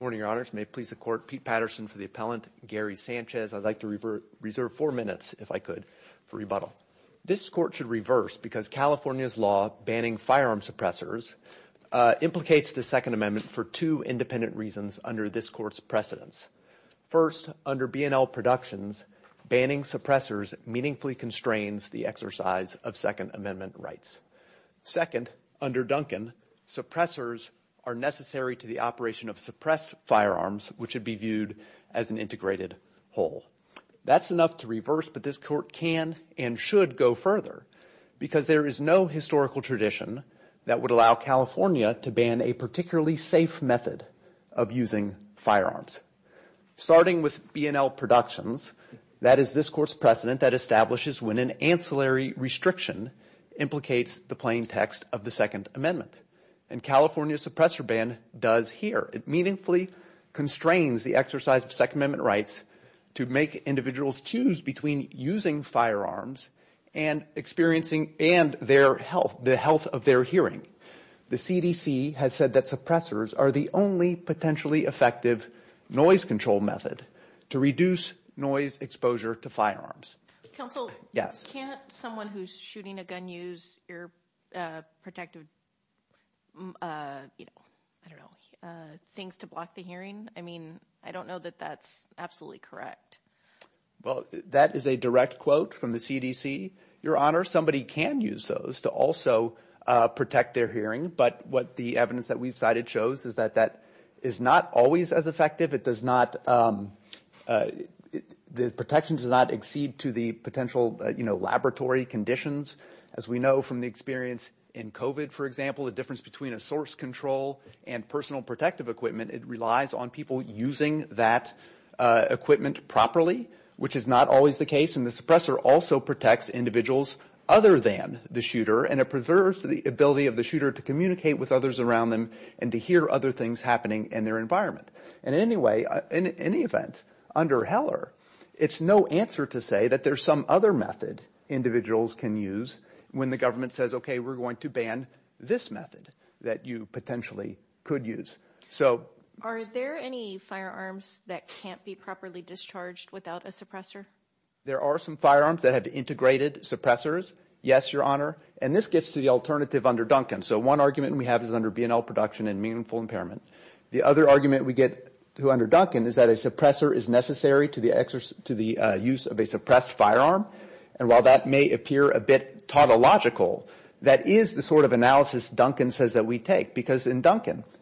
Good morning, Your Honors. May it please the Court, Pete Patterson for the appellant, Gary Sanchez. I'd like to reserve four minutes, if I could, for rebuttal. This Court should reverse because California's law banning firearm suppressors implicates the Second Amendment for two independent reasons under this Court's precedence. First, under B&L Productions, banning suppressors meaningfully constrains the exercise of Second Amendment rights. Second, under Duncan, suppressors are necessary to the operation of suppressed firearms, which would be viewed as an integrated whole. That's enough to reverse, but this Court can and should go further because there is no historical tradition that would allow California to ban a particularly safe method of using firearms. Starting with B&L Productions, that is this Court's precedent that establishes when an ancillary restriction implicates the plain text of the Second Amendment, and California's suppressor ban does here. It meaningfully constrains the exercise of Second Amendment rights to make individuals choose between using firearms and experiencing, and their health, the health of their hearing. The CDC has said that suppressors are the only potentially effective noise control method to reduce noise exposure to firearms. Counselor, can't someone who's shooting a gun use ear protective, you know, I don't know, things to block the hearing? I mean, I don't know that that's absolutely correct. Well, that is a direct quote from the CDC. Your Honor, somebody can use those to also protect their hearing, but what the evidence that we've cited shows is that that is not always as effective. It does not, the protections does not exceed to the potential, you know, laboratory conditions. As we know from the experience in COVID, for example, the difference between a source control and personal protective equipment, it relies on using that equipment properly, which is not always the case. And the suppressor also protects individuals other than the shooter, and it preserves the ability of the shooter to communicate with others around them, and to hear other things happening in their environment. And anyway, in any event, under Heller, it's no answer to say that there's some other method individuals can use when the government says, okay, we're going to ban this method that you potentially could use. So... Are there any firearms that can't be properly discharged without a suppressor? There are some firearms that have integrated suppressors. Yes, Your Honor. And this gets to the alternative under Duncan. So one argument we have is under BNL production and meaningful impairment. The other argument we get to under Duncan is that a suppressor is necessary to the use of a suppressed firearm. And while that may appear a bit tautological, that is the sort of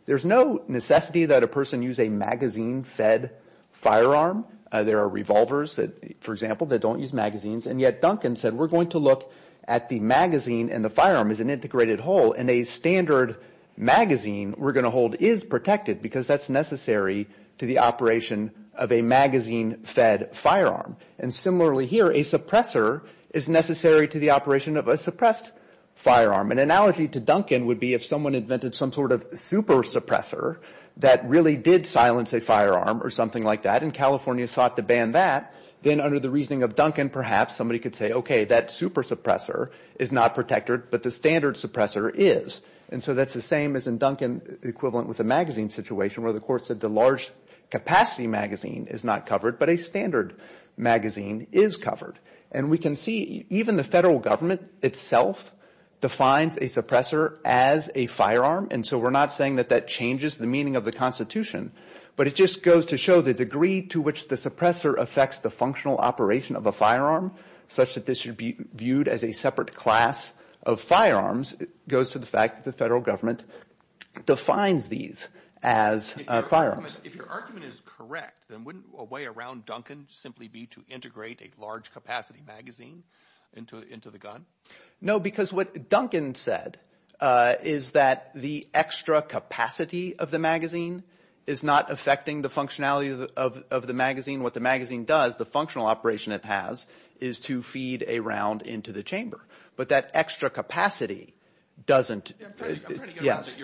There's no necessity that a person use a magazine-fed firearm. There are revolvers that, for example, that don't use magazines. And yet Duncan said, we're going to look at the magazine and the firearm as an integrated whole, and a standard magazine we're going to hold is protected because that's necessary to the operation of a magazine-fed firearm. And similarly here, a suppressor is necessary to the operation of a suppressed firearm. An analogy to Duncan would be if someone invented some sort of super suppressor that really did silence a firearm or something like that, and California sought to ban that, then under the reasoning of Duncan, perhaps somebody could say, okay, that super suppressor is not protected, but the standard suppressor is. And so that's the same as in Duncan equivalent with the magazine situation where the court said the large capacity magazine is not covered, but a standard magazine is covered. And we can see even the federal government itself defines a suppressor as a firearm, and so we're not saying that that changes the meaning of the Constitution, but it just goes to show the degree to which the suppressor affects the functional operation of a firearm such that this should be viewed as a separate class of firearms goes to the fact that the federal government defines these as firearms. If your argument is correct, wouldn't a way around Duncan simply be to integrate a large capacity magazine into the gun? No, because what Duncan said is that the extra capacity of the magazine is not affecting the functionality of the magazine. What the magazine does, the functional operation it has, is to feed a round into the chamber. But that extra capacity doesn't... I'm trying to get around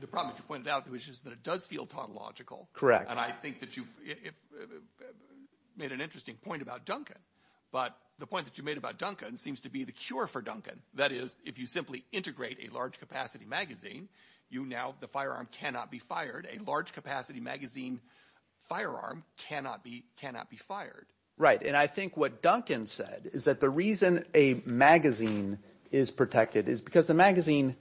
the problem that you pointed out, which is that it does feel illogical. And I think that you've made an interesting point about Duncan, but the point that you made about Duncan seems to be the cure for Duncan. That is, if you simply integrate a large capacity magazine, the firearm cannot be fired. A large capacity magazine firearm cannot be fired. Right. And I think what Duncan said is that the reason a magazine is protected is because the magazine,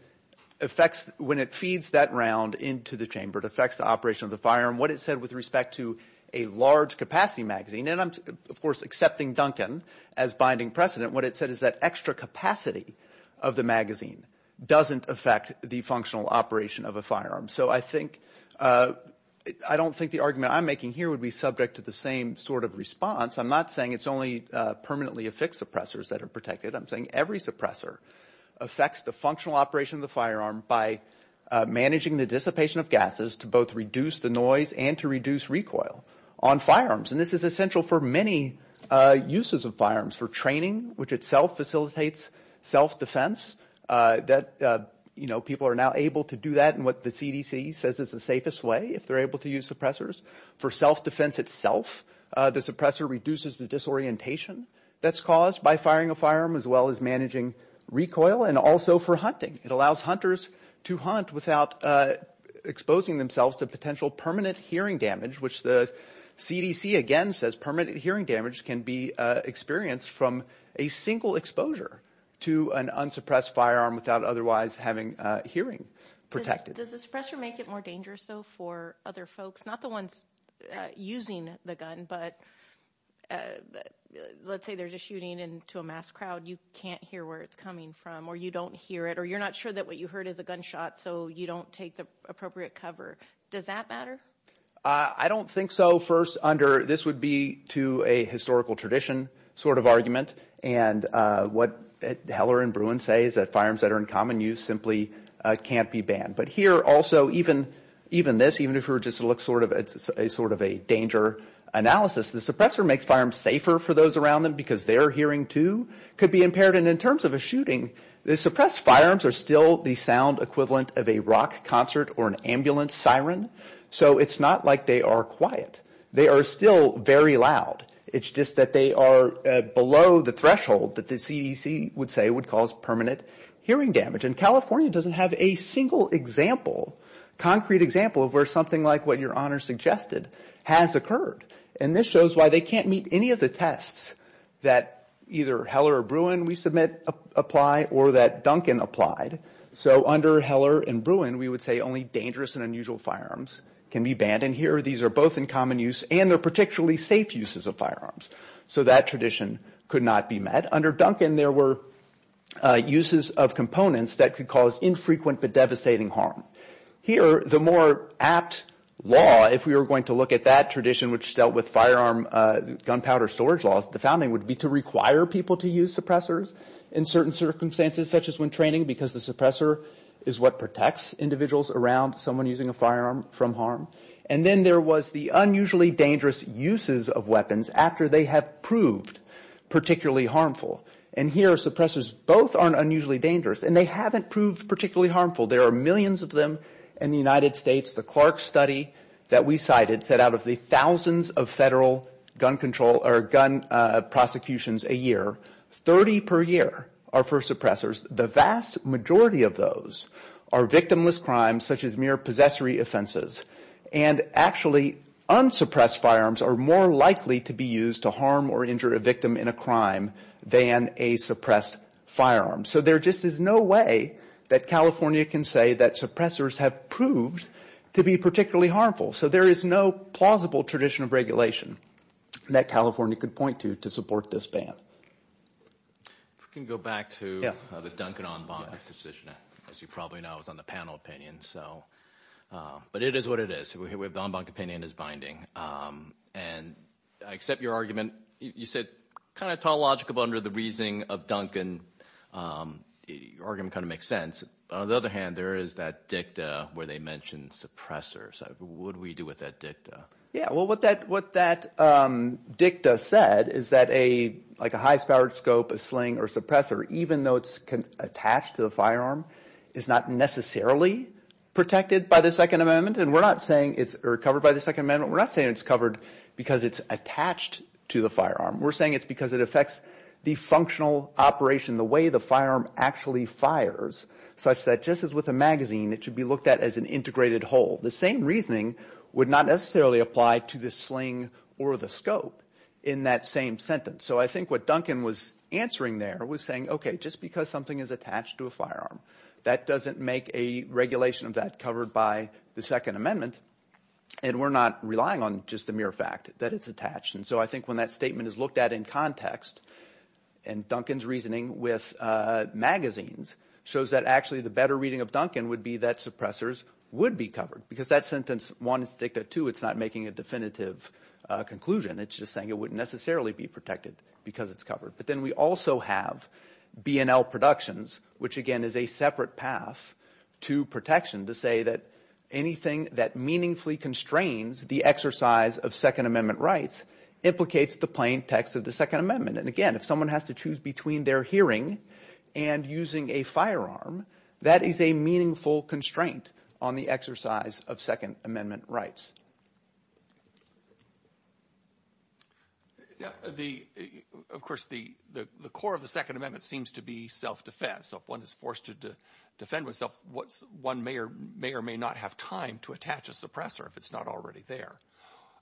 when it feeds that round into the chamber, it affects the operation of the firearm. What it said with respect to a large capacity magazine, and I'm, of course, accepting Duncan as binding precedent, what it said is that extra capacity of the magazine doesn't affect the functional operation of a firearm. So I don't think the argument I'm making here would be subject to the same sort of response. I'm not saying it's only permanently affixed suppressors that are protected. I'm saying every suppressor affects the functional operation of the firearm by managing the dissipation of gases to both reduce the noise and to reduce recoil on firearms. And this is essential for many uses of firearms, for training, which itself facilitates self-defense, that, you know, people are now able to do that in what the CDC says is the safest way, if they're able to use suppressors. For self-defense itself, the suppressor reduces the disorientation that's caused by firing a firearm, as well as managing recoil, and also for hunting. It allows hunters to hunt without exposing themselves to potential permanent hearing damage, which the CDC, again, says permanent hearing damage can be experienced from a single exposure to an unsuppressed firearm without otherwise having hearing protected. Does the suppressor make it more dangerous, though, for other folks? Not the ones using the gun, but let's say there's a shooting and to a mass crowd, you can't hear where it's coming from, or you don't hear it, or you're not sure that what you heard is a gunshot, so you don't take the appropriate cover. Does that matter? I don't think so. First, this would be to a historical tradition sort of argument, and what Heller and Bruin say is that firearms that are in common use simply can't be banned. But here, also, even this, even if it were just to look sort of a danger analysis, the suppressor makes firearms safer for those around them, because their hearing, too, could be impaired. And in terms of a shooting, the suppressed firearms are still the sound equivalent of a rock concert or an ambulance siren, so it's not like they are quiet. They are still very loud. It's just that they are below the threshold that the CDC would say would cause permanent hearing damage. And California doesn't have a single example, concrete example, of where something like what Your Honor suggested has occurred. And this shows why they can't meet any of the tests that either Heller or Bruin, we submit, apply or that Duncan applied. So under Heller and Bruin, we would say only dangerous and unusual firearms can be banned. And here, these are both in common use, and they're particularly safe uses of firearms. So that tradition could not be met. Under Duncan, there were uses of components that could cause infrequent but devastating harm. Here, the more apt law, if we were going to look at that tradition which dealt with firearm gunpowder storage laws, the founding would be to require people to use suppressors in certain circumstances, such as when training, because the suppressor is what protects individuals around someone using a firearm from harm. And then there was the unusually dangerous uses of weapons after they have proved particularly harmful. And here, suppressors both aren't unusually dangerous, and they haven't proved particularly harmful. There are millions of them in the United States. The Clark study that we cited said out of the thousands of federal gun control or gun prosecutions a year, 30 per year are for suppressors. The vast majority of those are victimless crimes, such as mere possessory offenses. And actually, unsuppressed firearms are more likely to be used to harm or injure a victim in a crime than a suppressed firearm. So there just is no way that California can say that suppressors have proved to be particularly harmful. So there is no plausible tradition of regulation that California could point to to support this ban. If we can go back to the Duncan-Ombank decision, as you probably know, it was on the panel opinion. But it is what it is. We have the Ombank opinion as binding. And I accept your argument. You said kind of tall logic under the reasoning of Duncan. Your argument kind of makes sense. On the other hand, there is that dicta where they mentioned suppressors. What do we do with that dicta? Yeah, well, what that dicta said is that a high-powered scope, a sling, or suppressor, even though it's attached to the firearm, is not necessarily protected by the Second Amendment. And we're not saying it's covered by the Second Amendment. We're not saying it's covered because it's attached to the firearm. We're saying it's because it affects the functional operation, the way the firearm actually fires, such that just as with a magazine, it should be looked at as an integrated whole. The same reasoning would not necessarily apply to the sling or the scope in that same sentence. So I think what Duncan was answering there was saying, okay, just because something is attached to a firearm, that doesn't make a regulation of that covered by the Second Amendment. And we're not relying on just the mere fact that it's attached. And so I think when that statement is looked at in context, and Duncan's reasoning with magazines, shows that actually the better reading of Duncan would be that suppressors would be covered. Because that sentence, one, it's dicta, two, it's not making a definitive conclusion. It's just saying it wouldn't necessarily be protected because it's covered. But then we also have B&L Productions, which, again, is a separate path to protection to say that anything that meaningfully constrains the exercise of Second Amendment rights, implicates the plain text of the Second Amendment. And again, if someone has to choose between their hearing and using a firearm, that is a meaningful constraint on the exercise of Second Amendment rights. Of course, the core of the Second Amendment seems to be self-defense. So if one is forced to defend oneself, one may or may not have time to attach a suppressor if it's not already there.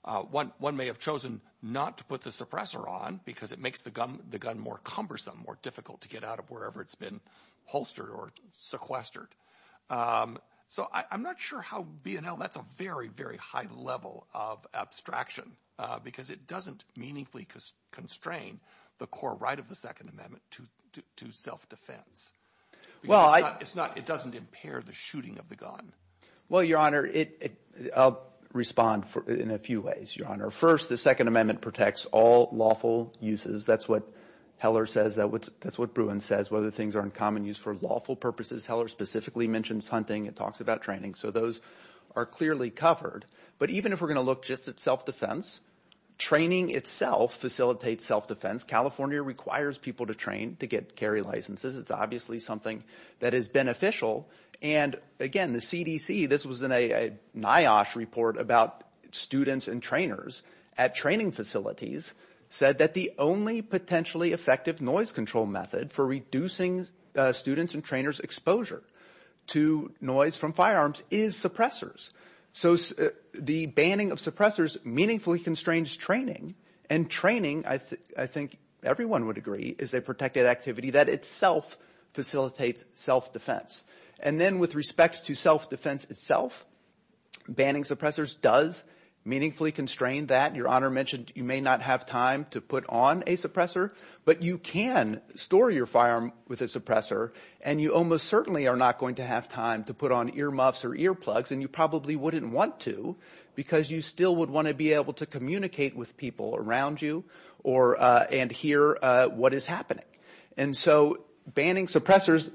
One may have chosen not to put the suppressor on because it makes the gun more cumbersome, more difficult to get out of wherever it's been holstered or sequestered. So I'm not sure how B&L, that's a very, very high level of abstraction because it doesn't meaningfully constrain the core right of the Second Amendment to self-defense. Well, it's not, it doesn't impair the shooting of the gun. Well, Your Honor, I'll respond in a few ways, Your Honor. First, the Second Amendment protects all lawful uses. That's what Heller says. That's what Bruin says, whether things are in common use for lawful purposes. Heller specifically mentions hunting. It talks about training. So those are clearly covered. But even if we're going to look just at self-defense, training itself facilitates self-defense. California requires people to train to get carry licenses. It's obviously something that is beneficial. And again, the CDC, this was in a NIOSH report about students and trainers at training facilities said that the only potentially effective noise control method for reducing students and trainers exposure to noise from firearms is suppressors. So the banning of suppressors meaningfully constrains training. And training, I think everyone would agree, is a protected activity that itself facilitates self-defense. And then with respect to self-defense itself, banning suppressors does meaningfully constrain that. Your Honor mentioned you may not have time to put on a suppressor, but you can store your firearm with a suppressor. And you almost certainly are not going to have time to put on earmuffs or earplugs. And you probably wouldn't want to because you still would want to be able to communicate with people around you and hear what is happening. And so banning suppressors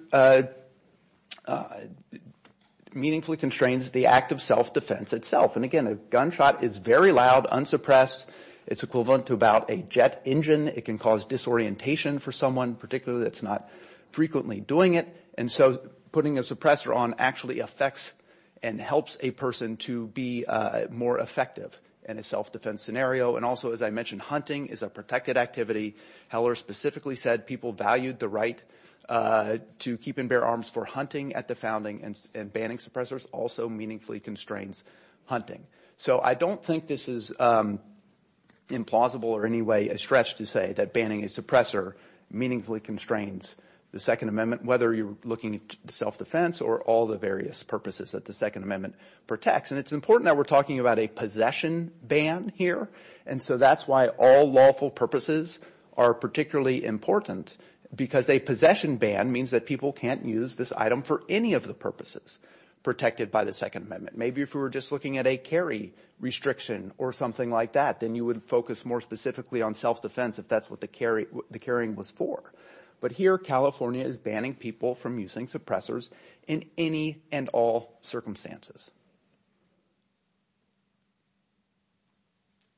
meaningfully constrains the act of self-defense itself. And again, a gunshot is very loud, unsuppressed. It's equivalent to about a jet engine. It can cause disorientation for someone particularly that's not frequently doing it. And so putting a suppressor on actually affects and helps a person to be more effective in a self-defense scenario. And also, as I mentioned, hunting is a protected activity. Heller specifically said people valued the right to keep and bear arms for hunting at the founding. And banning suppressors also meaningfully constrains hunting. So I don't think this is implausible or in any way a stretch to say that banning a suppressor meaningfully constrains the Second Amendment, whether you're looking at self-defense or all the various purposes that the Second Amendment protects. And it's important that we're talking about a possession ban here. And so that's why all lawful purposes are particularly important because a possession ban means that people can't use this item for any of the purposes protected by the Second Amendment. Maybe if we were just looking at a carry restriction or something like that, then you would focus more specifically on self-defense if that's what the carrying was for. But here, California is banning people from using suppressors in any and all circumstances.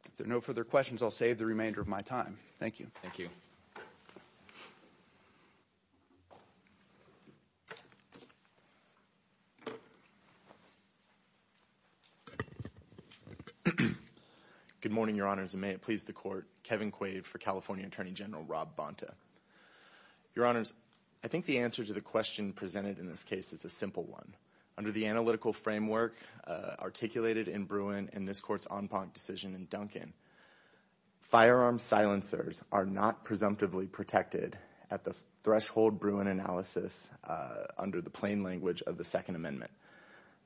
If there are no further questions, I'll save the remainder of my time. Thank you. Thank you. Good morning, Your Honors, and may it please the Court. Kevin Quaid for California Attorney General Rob Bonta. Your Honors, I think the answer to the question presented in this case is a simple one. Under the analytical framework articulated in Bruin in this Court's en banc decision in Duncan, firearm silencers are not presumptively protected at the threshold Bruin analysis under the plain language of the Second Amendment.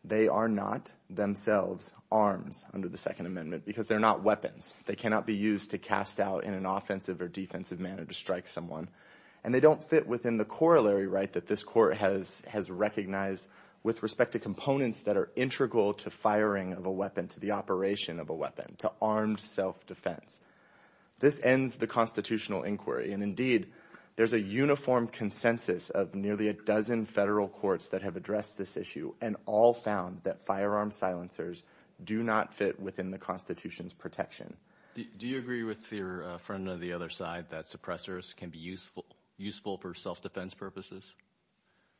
They are not themselves arms under the Second Amendment because they're not weapons. They cannot be used to cast out in an offensive or defensive manner to strike someone. And they don't fit within the corollary right that this Court has recognized with respect to components that are integral to firing of a weapon, to the operation of a weapon, to armed self-defense. This ends the constitutional inquiry. And indeed, there's a uniform consensus of nearly a dozen federal courts that have addressed this issue and all found that firearm silencers do not fit within the Constitution's protection. Do you agree with your friend on the other side that suppressors can be useful for self-defense purposes?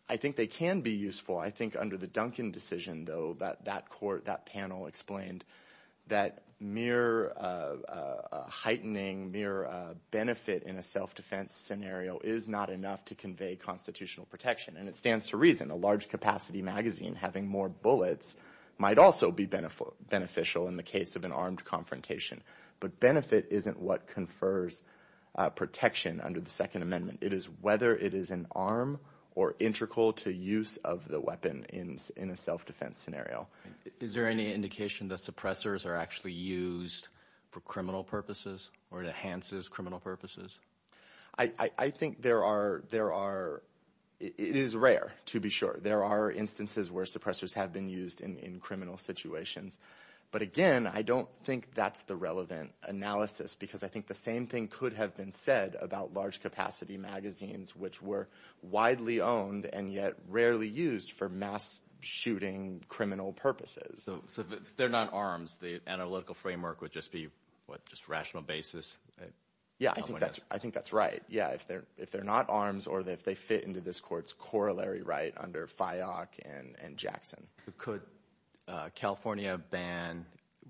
I think they can be useful. I think under the Duncan decision, though, that panel explained that mere heightening, mere benefit in a self-defense scenario is not enough to convey constitutional protection. And it stands to reason a large capacity magazine having more bullets might also be beneficial in the case of an armed confrontation. But benefit isn't what confers protection under the Second Amendment. It is whether it is an arm or integral to use of the weapon in a self-defense scenario. Is there any indication that suppressors are actually used for criminal purposes or enhances criminal purposes? I think there are. There are. It is rare, to be sure. There are instances where suppressors have been used in criminal situations. But again, I don't think that's the relevant analysis, because I think the same thing could have been said about large capacity magazines, which were widely owned and yet rarely used for mass shooting criminal purposes. So if they're not arms, the analytical framework would just be, what, just rational basis? Yeah, I think that's right. If they're not arms or if they fit into this court's corollary right under FIOC and Jackson. Could California ban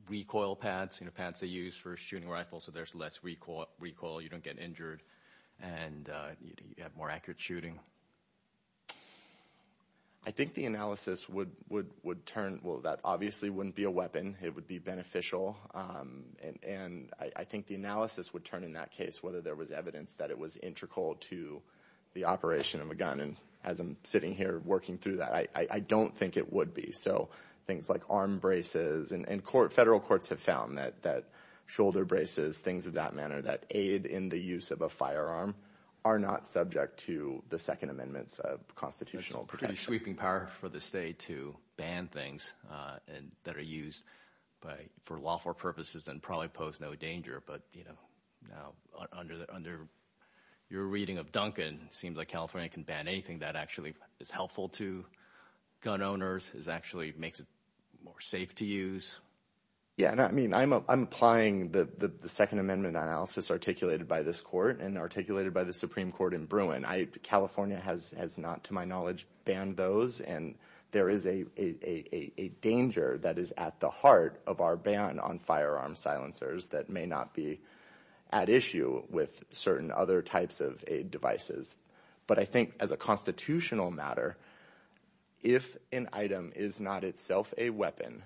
recoil pads, pads they use for shooting rifles so there's less recoil, you don't get injured, and you have more accurate shooting? I think the analysis would turn, well, that obviously wouldn't be a weapon. It would be beneficial. And I think the analysis would turn in that case whether there was evidence that it was integral to the operation of a gun. And as I'm sitting here working through that, I don't think it would be. So things like arm braces, and federal courts have found that shoulder braces, things of that manner that aid in the use of a firearm are not subject to the Second Amendment's constitutional protection. It's sweeping power for the state to ban things that are used for lawful purposes and probably pose no danger. But under your reading of Duncan, it seems like California can ban anything that actually is helpful to gun owners, actually makes it more safe to use. Yeah, and I mean, I'm applying the Second Amendment analysis articulated by this court and articulated by the Supreme Court in Bruin. California has not, to my knowledge, banned those. And there is a danger that is at the heart of our ban on firearm silencers that may not be at issue with certain other types of aid devices. But I think as a constitutional matter, if an item is not itself a weapon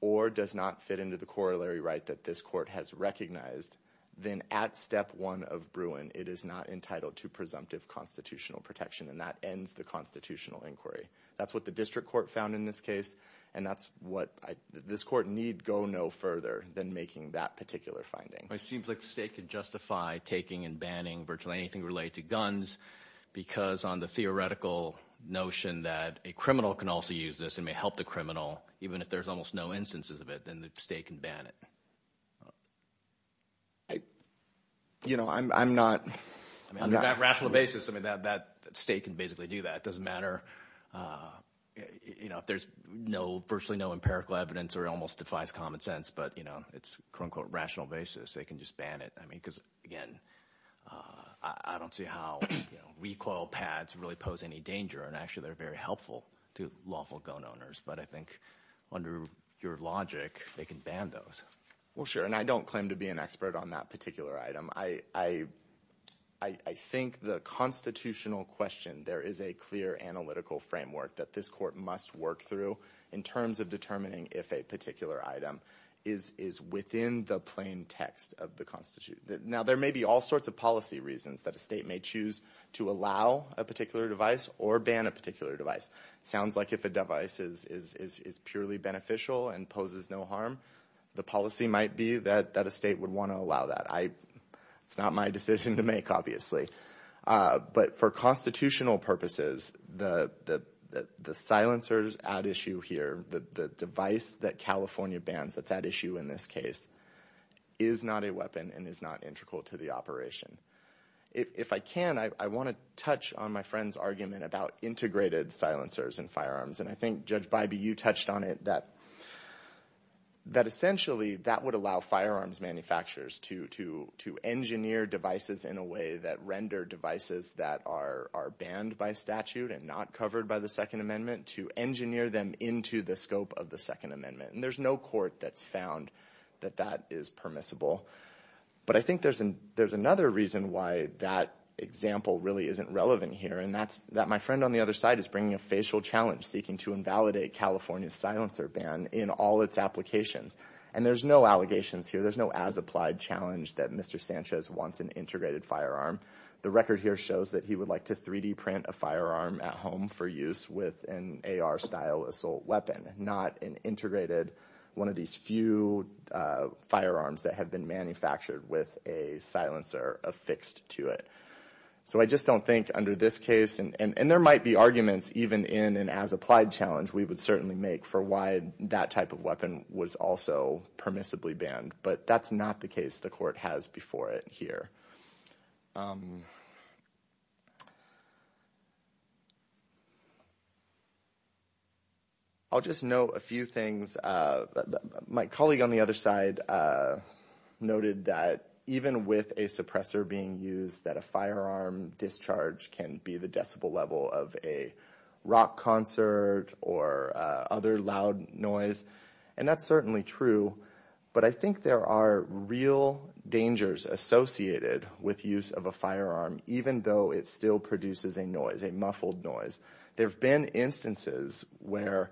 or does not fit into the corollary right that this court has recognized, then at step one of Bruin, it is not entitled to presumptive constitutional protection. And that ends the constitutional inquiry. That's what the district court found in this case. And that's what this court need go no further than making that particular finding. It seems like the state could justify taking and banning virtually anything related to guns because on the theoretical notion that a criminal can also use this and may help the criminal, even if there's almost no instances of it, then the state can ban it. I, you know, I'm, I'm not. On a rational basis, I mean, that state can basically do that. It doesn't matter, you know, if there's no virtually no empirical evidence or almost defies common sense, but, you know, it's quote unquote rational basis. They can just ban it. I mean, because, again, I don't see how recoil pads really pose any danger. And actually, they're very helpful to lawful gun owners. But I think under your logic, they can ban those. Well, sure. And I don't claim to be an expert on that particular item. I, I, I think the constitutional question, there is a clear analytical framework that this court must work through in terms of determining if a particular item is, is within the plain text of the constitution. Now, there may be all sorts of policy reasons that a state may choose to allow a particular device or ban a particular device. Sounds like if a device is, is, is purely beneficial and poses no harm, the policy might be that, that a state would want to allow that. I, it's not my decision to make, obviously. But for constitutional purposes, the, the, the silencers at issue here, the, the device that California bans that's at issue in this case, is not a weapon and is not integral to the operation. If, if I can, I, I want to touch on my friend's argument about integrated silencers and firearms. And I think Judge Bybee, you touched on it, that, that essentially that would allow firearms manufacturers to, to, to engineer devices in a way that render devices that are, are banned by statute and not covered by the Second Amendment, to engineer them into the scope of the Second Amendment. And there's no court that's found that that is permissible. But I think there's an, there's another reason why that example really isn't relevant here. And that's, that my friend on the other side is bringing a facial challenge seeking to invalidate California's silencer ban in all its applications. And there's no allegations here. There's no as-applied challenge that Mr. Sanchez wants an integrated firearm. The record here shows that he would like to 3D print a firearm at home for use with an AR-style assault weapon, not an integrated, one of these few firearms that have been manufactured with a silencer affixed to it. So I just don't think under this case, and, and, and there might be arguments even in an as-applied challenge we would certainly make for why that type of weapon was also permissibly banned. But that's not the case the court has before it here. I'll just note a few things. My colleague on the other side noted that even with a suppressor being used, that a firearm discharge can be the decibel level of a rock concert or other loud noise. And that's certainly true. But I think there are real dangers associated with use of a firearm, even though it still produces a noise, a muffled noise. There have been instances where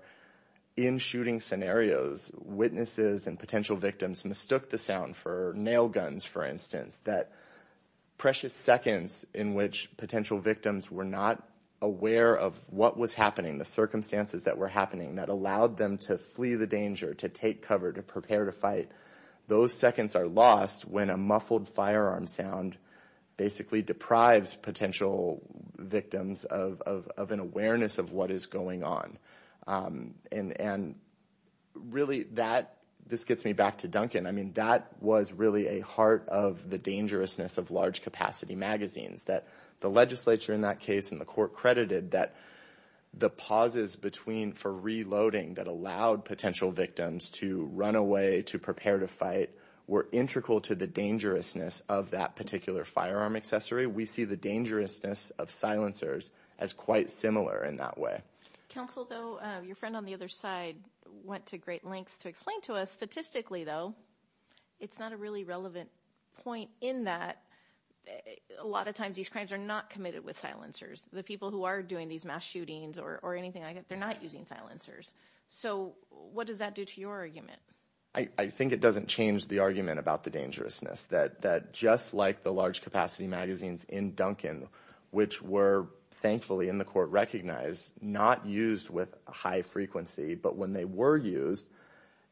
in shooting scenarios, witnesses and potential victims mistook the sound for nail guns, for instance. That precious seconds in which potential victims were not aware of what was happening, the circumstances that were happening that allowed them to flee the danger, to take cover, to prepare to fight. Those seconds are lost when a muffled firearm sound basically deprives potential victims of an awareness of what is going on. And really, this gets me back to Duncan. I mean, that was really a heart of the dangerousness of large capacity magazines. That the legislature in that case and the court credited that the pauses for reloading that allowed potential victims to run away, to prepare to fight, were integral to the dangerousness of that particular firearm accessory. We see the dangerousness of silencers as quite similar in that way. Counsel, though, your friend on the other side went to great lengths to explain to us statistically, though, it's not a really relevant point in that a lot of times these crimes are not committed with silencers. The people who are doing these mass shootings or anything like that, they're not using silencers. So what does that do to your argument? I think it doesn't change the argument about the dangerousness. That just like the large capacity magazines in Duncan, which were thankfully in the court recognized, not used with high frequency. But when they were used,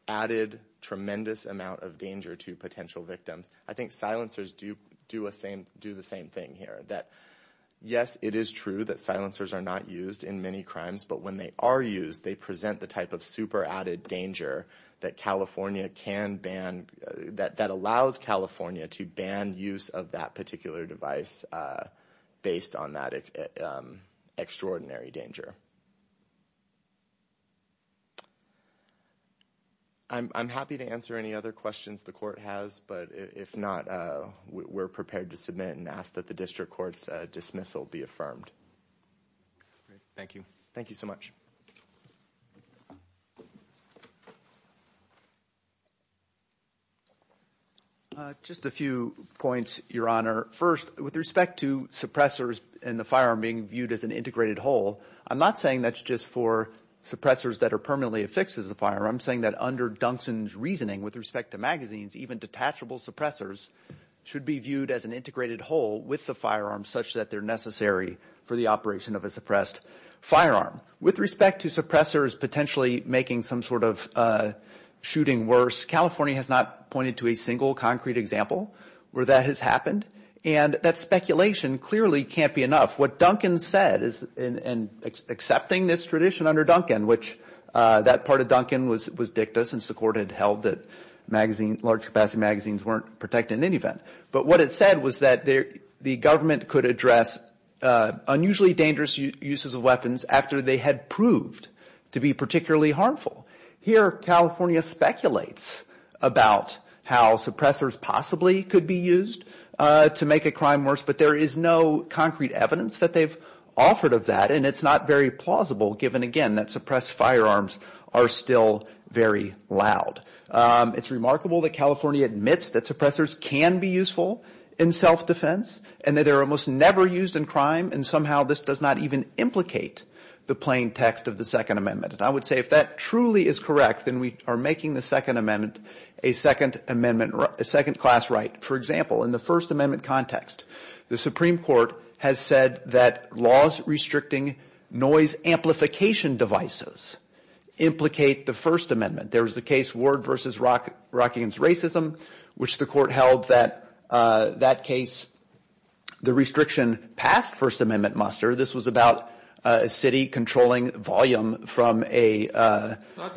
added tremendous amount of danger to potential victims. I think silencers do the same thing here. That yes, it is true that silencers are not used in many crimes. But when they are used, they present the type of super added danger that California can that allows California to ban use of that particular device based on that extraordinary danger. I'm happy to answer any other questions the court has. But if not, we're prepared to submit and ask that the district court's dismissal be affirmed. Thank you. Thank you so much. Just a few points, Your Honor. First, with respect to suppressors and the firearm being viewed as an integrated whole, I'm not saying that's just for suppressors that are permanently affixed as a firearm. I'm saying that under Duncanson's reasoning with respect to magazines, even detachable suppressors should be viewed as an integrated whole with the firearm such that they're necessary for the operation of a suppressed firearm. With respect to suppressors potentially making some sort of shooting worse, California has not pointed to a single concrete example where that has happened. And that speculation clearly can't be enough. What Duncan said in accepting this tradition under Duncan, which that part of Duncan was dicta since the court had held that large capacity magazines weren't protected in any event. But what it said was that the government could address unusually dangerous uses of weapons after they had proved to be particularly harmful. Here, California speculates about how suppressors possibly could be used to make a crime worse. But there is no concrete evidence that they've offered of that. And it's not very plausible, given, again, that suppressed firearms are still very loud. It's remarkable that California admits that suppressors can be useful in self-defense and that they're almost never used in crime. And somehow this does not even implicate the plain text of the Second Amendment. And I would say if that truly is correct, then we are making the Second Amendment a second class right. For example, in the First Amendment context, the Supreme Court has said that laws restricting noise amplification devices implicate the First Amendment. There was the case Ward v. Rockingham's Racism, which the court held that that case, the restriction passed First Amendment muster. This was about a city controlling volume from a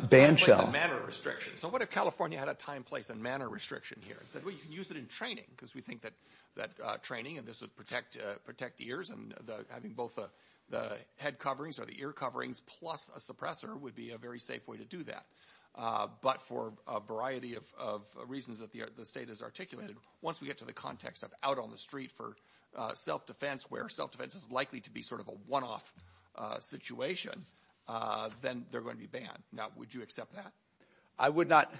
band shell. So what if California had a time, place, and manner restriction here and said, well, you can use it in training because we think that training and this would protect ears and having both the head coverings or the ear coverings plus a suppressor would be a very safe way to do that. But for a variety of reasons that the state has articulated, once we get to the context of out on the street for self-defense, where self-defense is likely to be sort of a one-off situation, then they're going to be banned. Now, would you accept that? I would not.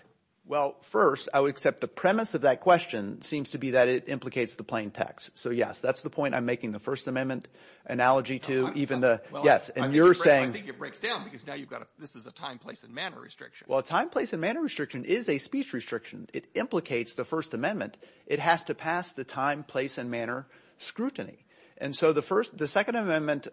Well, first, I would accept the premise of that question seems to be that it implicates the plain text. So yes, that's the point I'm making the First Amendment analogy to even the yes. And you're saying I think it breaks down because now you've got this is a time, place, and manner restriction. Well, a time, place, and manner restriction is a speech restriction. It implicates the First Amendment. It has to pass the time, place, and manner scrutiny. And so the First the Second Amendment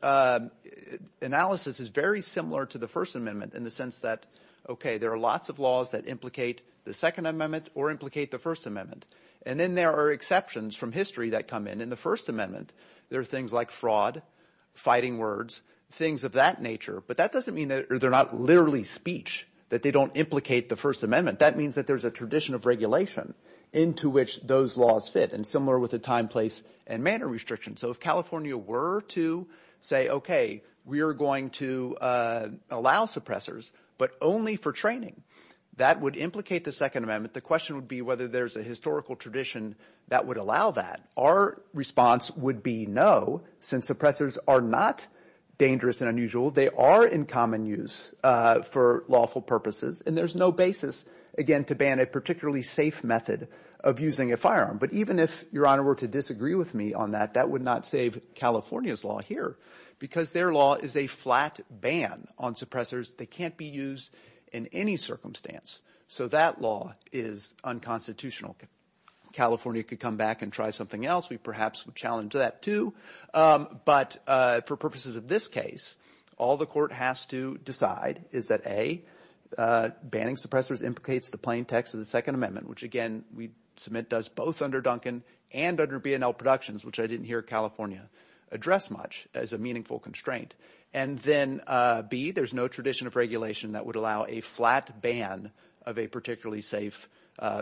analysis is very similar to the First Amendment in the sense that, OK, there are lots of laws that implicate the Second Amendment or implicate the First Amendment. And then there are exceptions from history that come in in the First Amendment. There are things like fraud, fighting words, things of that nature. But that doesn't mean that they're not literally speech, that they don't implicate the First Amendment. That means that there's a tradition of regulation into which those laws fit and similar with the time, place, and manner restriction. So if California were to say, OK, we are going to allow suppressors, but only for training, that would implicate the Second Amendment. The question would be whether there's a historical tradition that would allow that. Our response would be no, since suppressors are not dangerous and unusual. They are in common use for lawful purposes. And there's no basis, again, to ban a particularly safe method of using a firearm. But even if Your Honor were to disagree with me on that, that would not save California's law here because their law is a flat ban on suppressors. They can't be used in any circumstance. So that law is unconstitutional. California could come back and try something else. We perhaps would challenge that too. But for purposes of this case, all the court has to decide is that, A, banning suppressors implicates the plain text of the Second Amendment, which, again, we submit does both under Duncan and under B&L Productions, which I didn't hear California address much as a meaningful constraint. And then, B, there's no tradition of regulation that would allow a flat ban of a particularly safe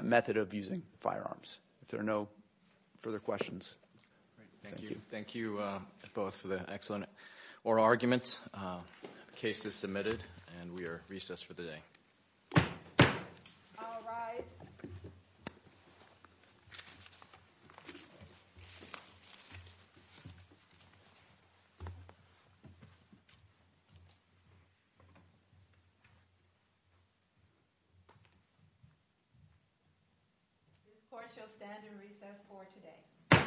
method of using firearms. If there are no further questions. Thank you. Thank you, both, for the excellent oral arguments. The case is submitted. And we are recessed for the day. I'll rise. The court shall stand and recess for today. Thank you.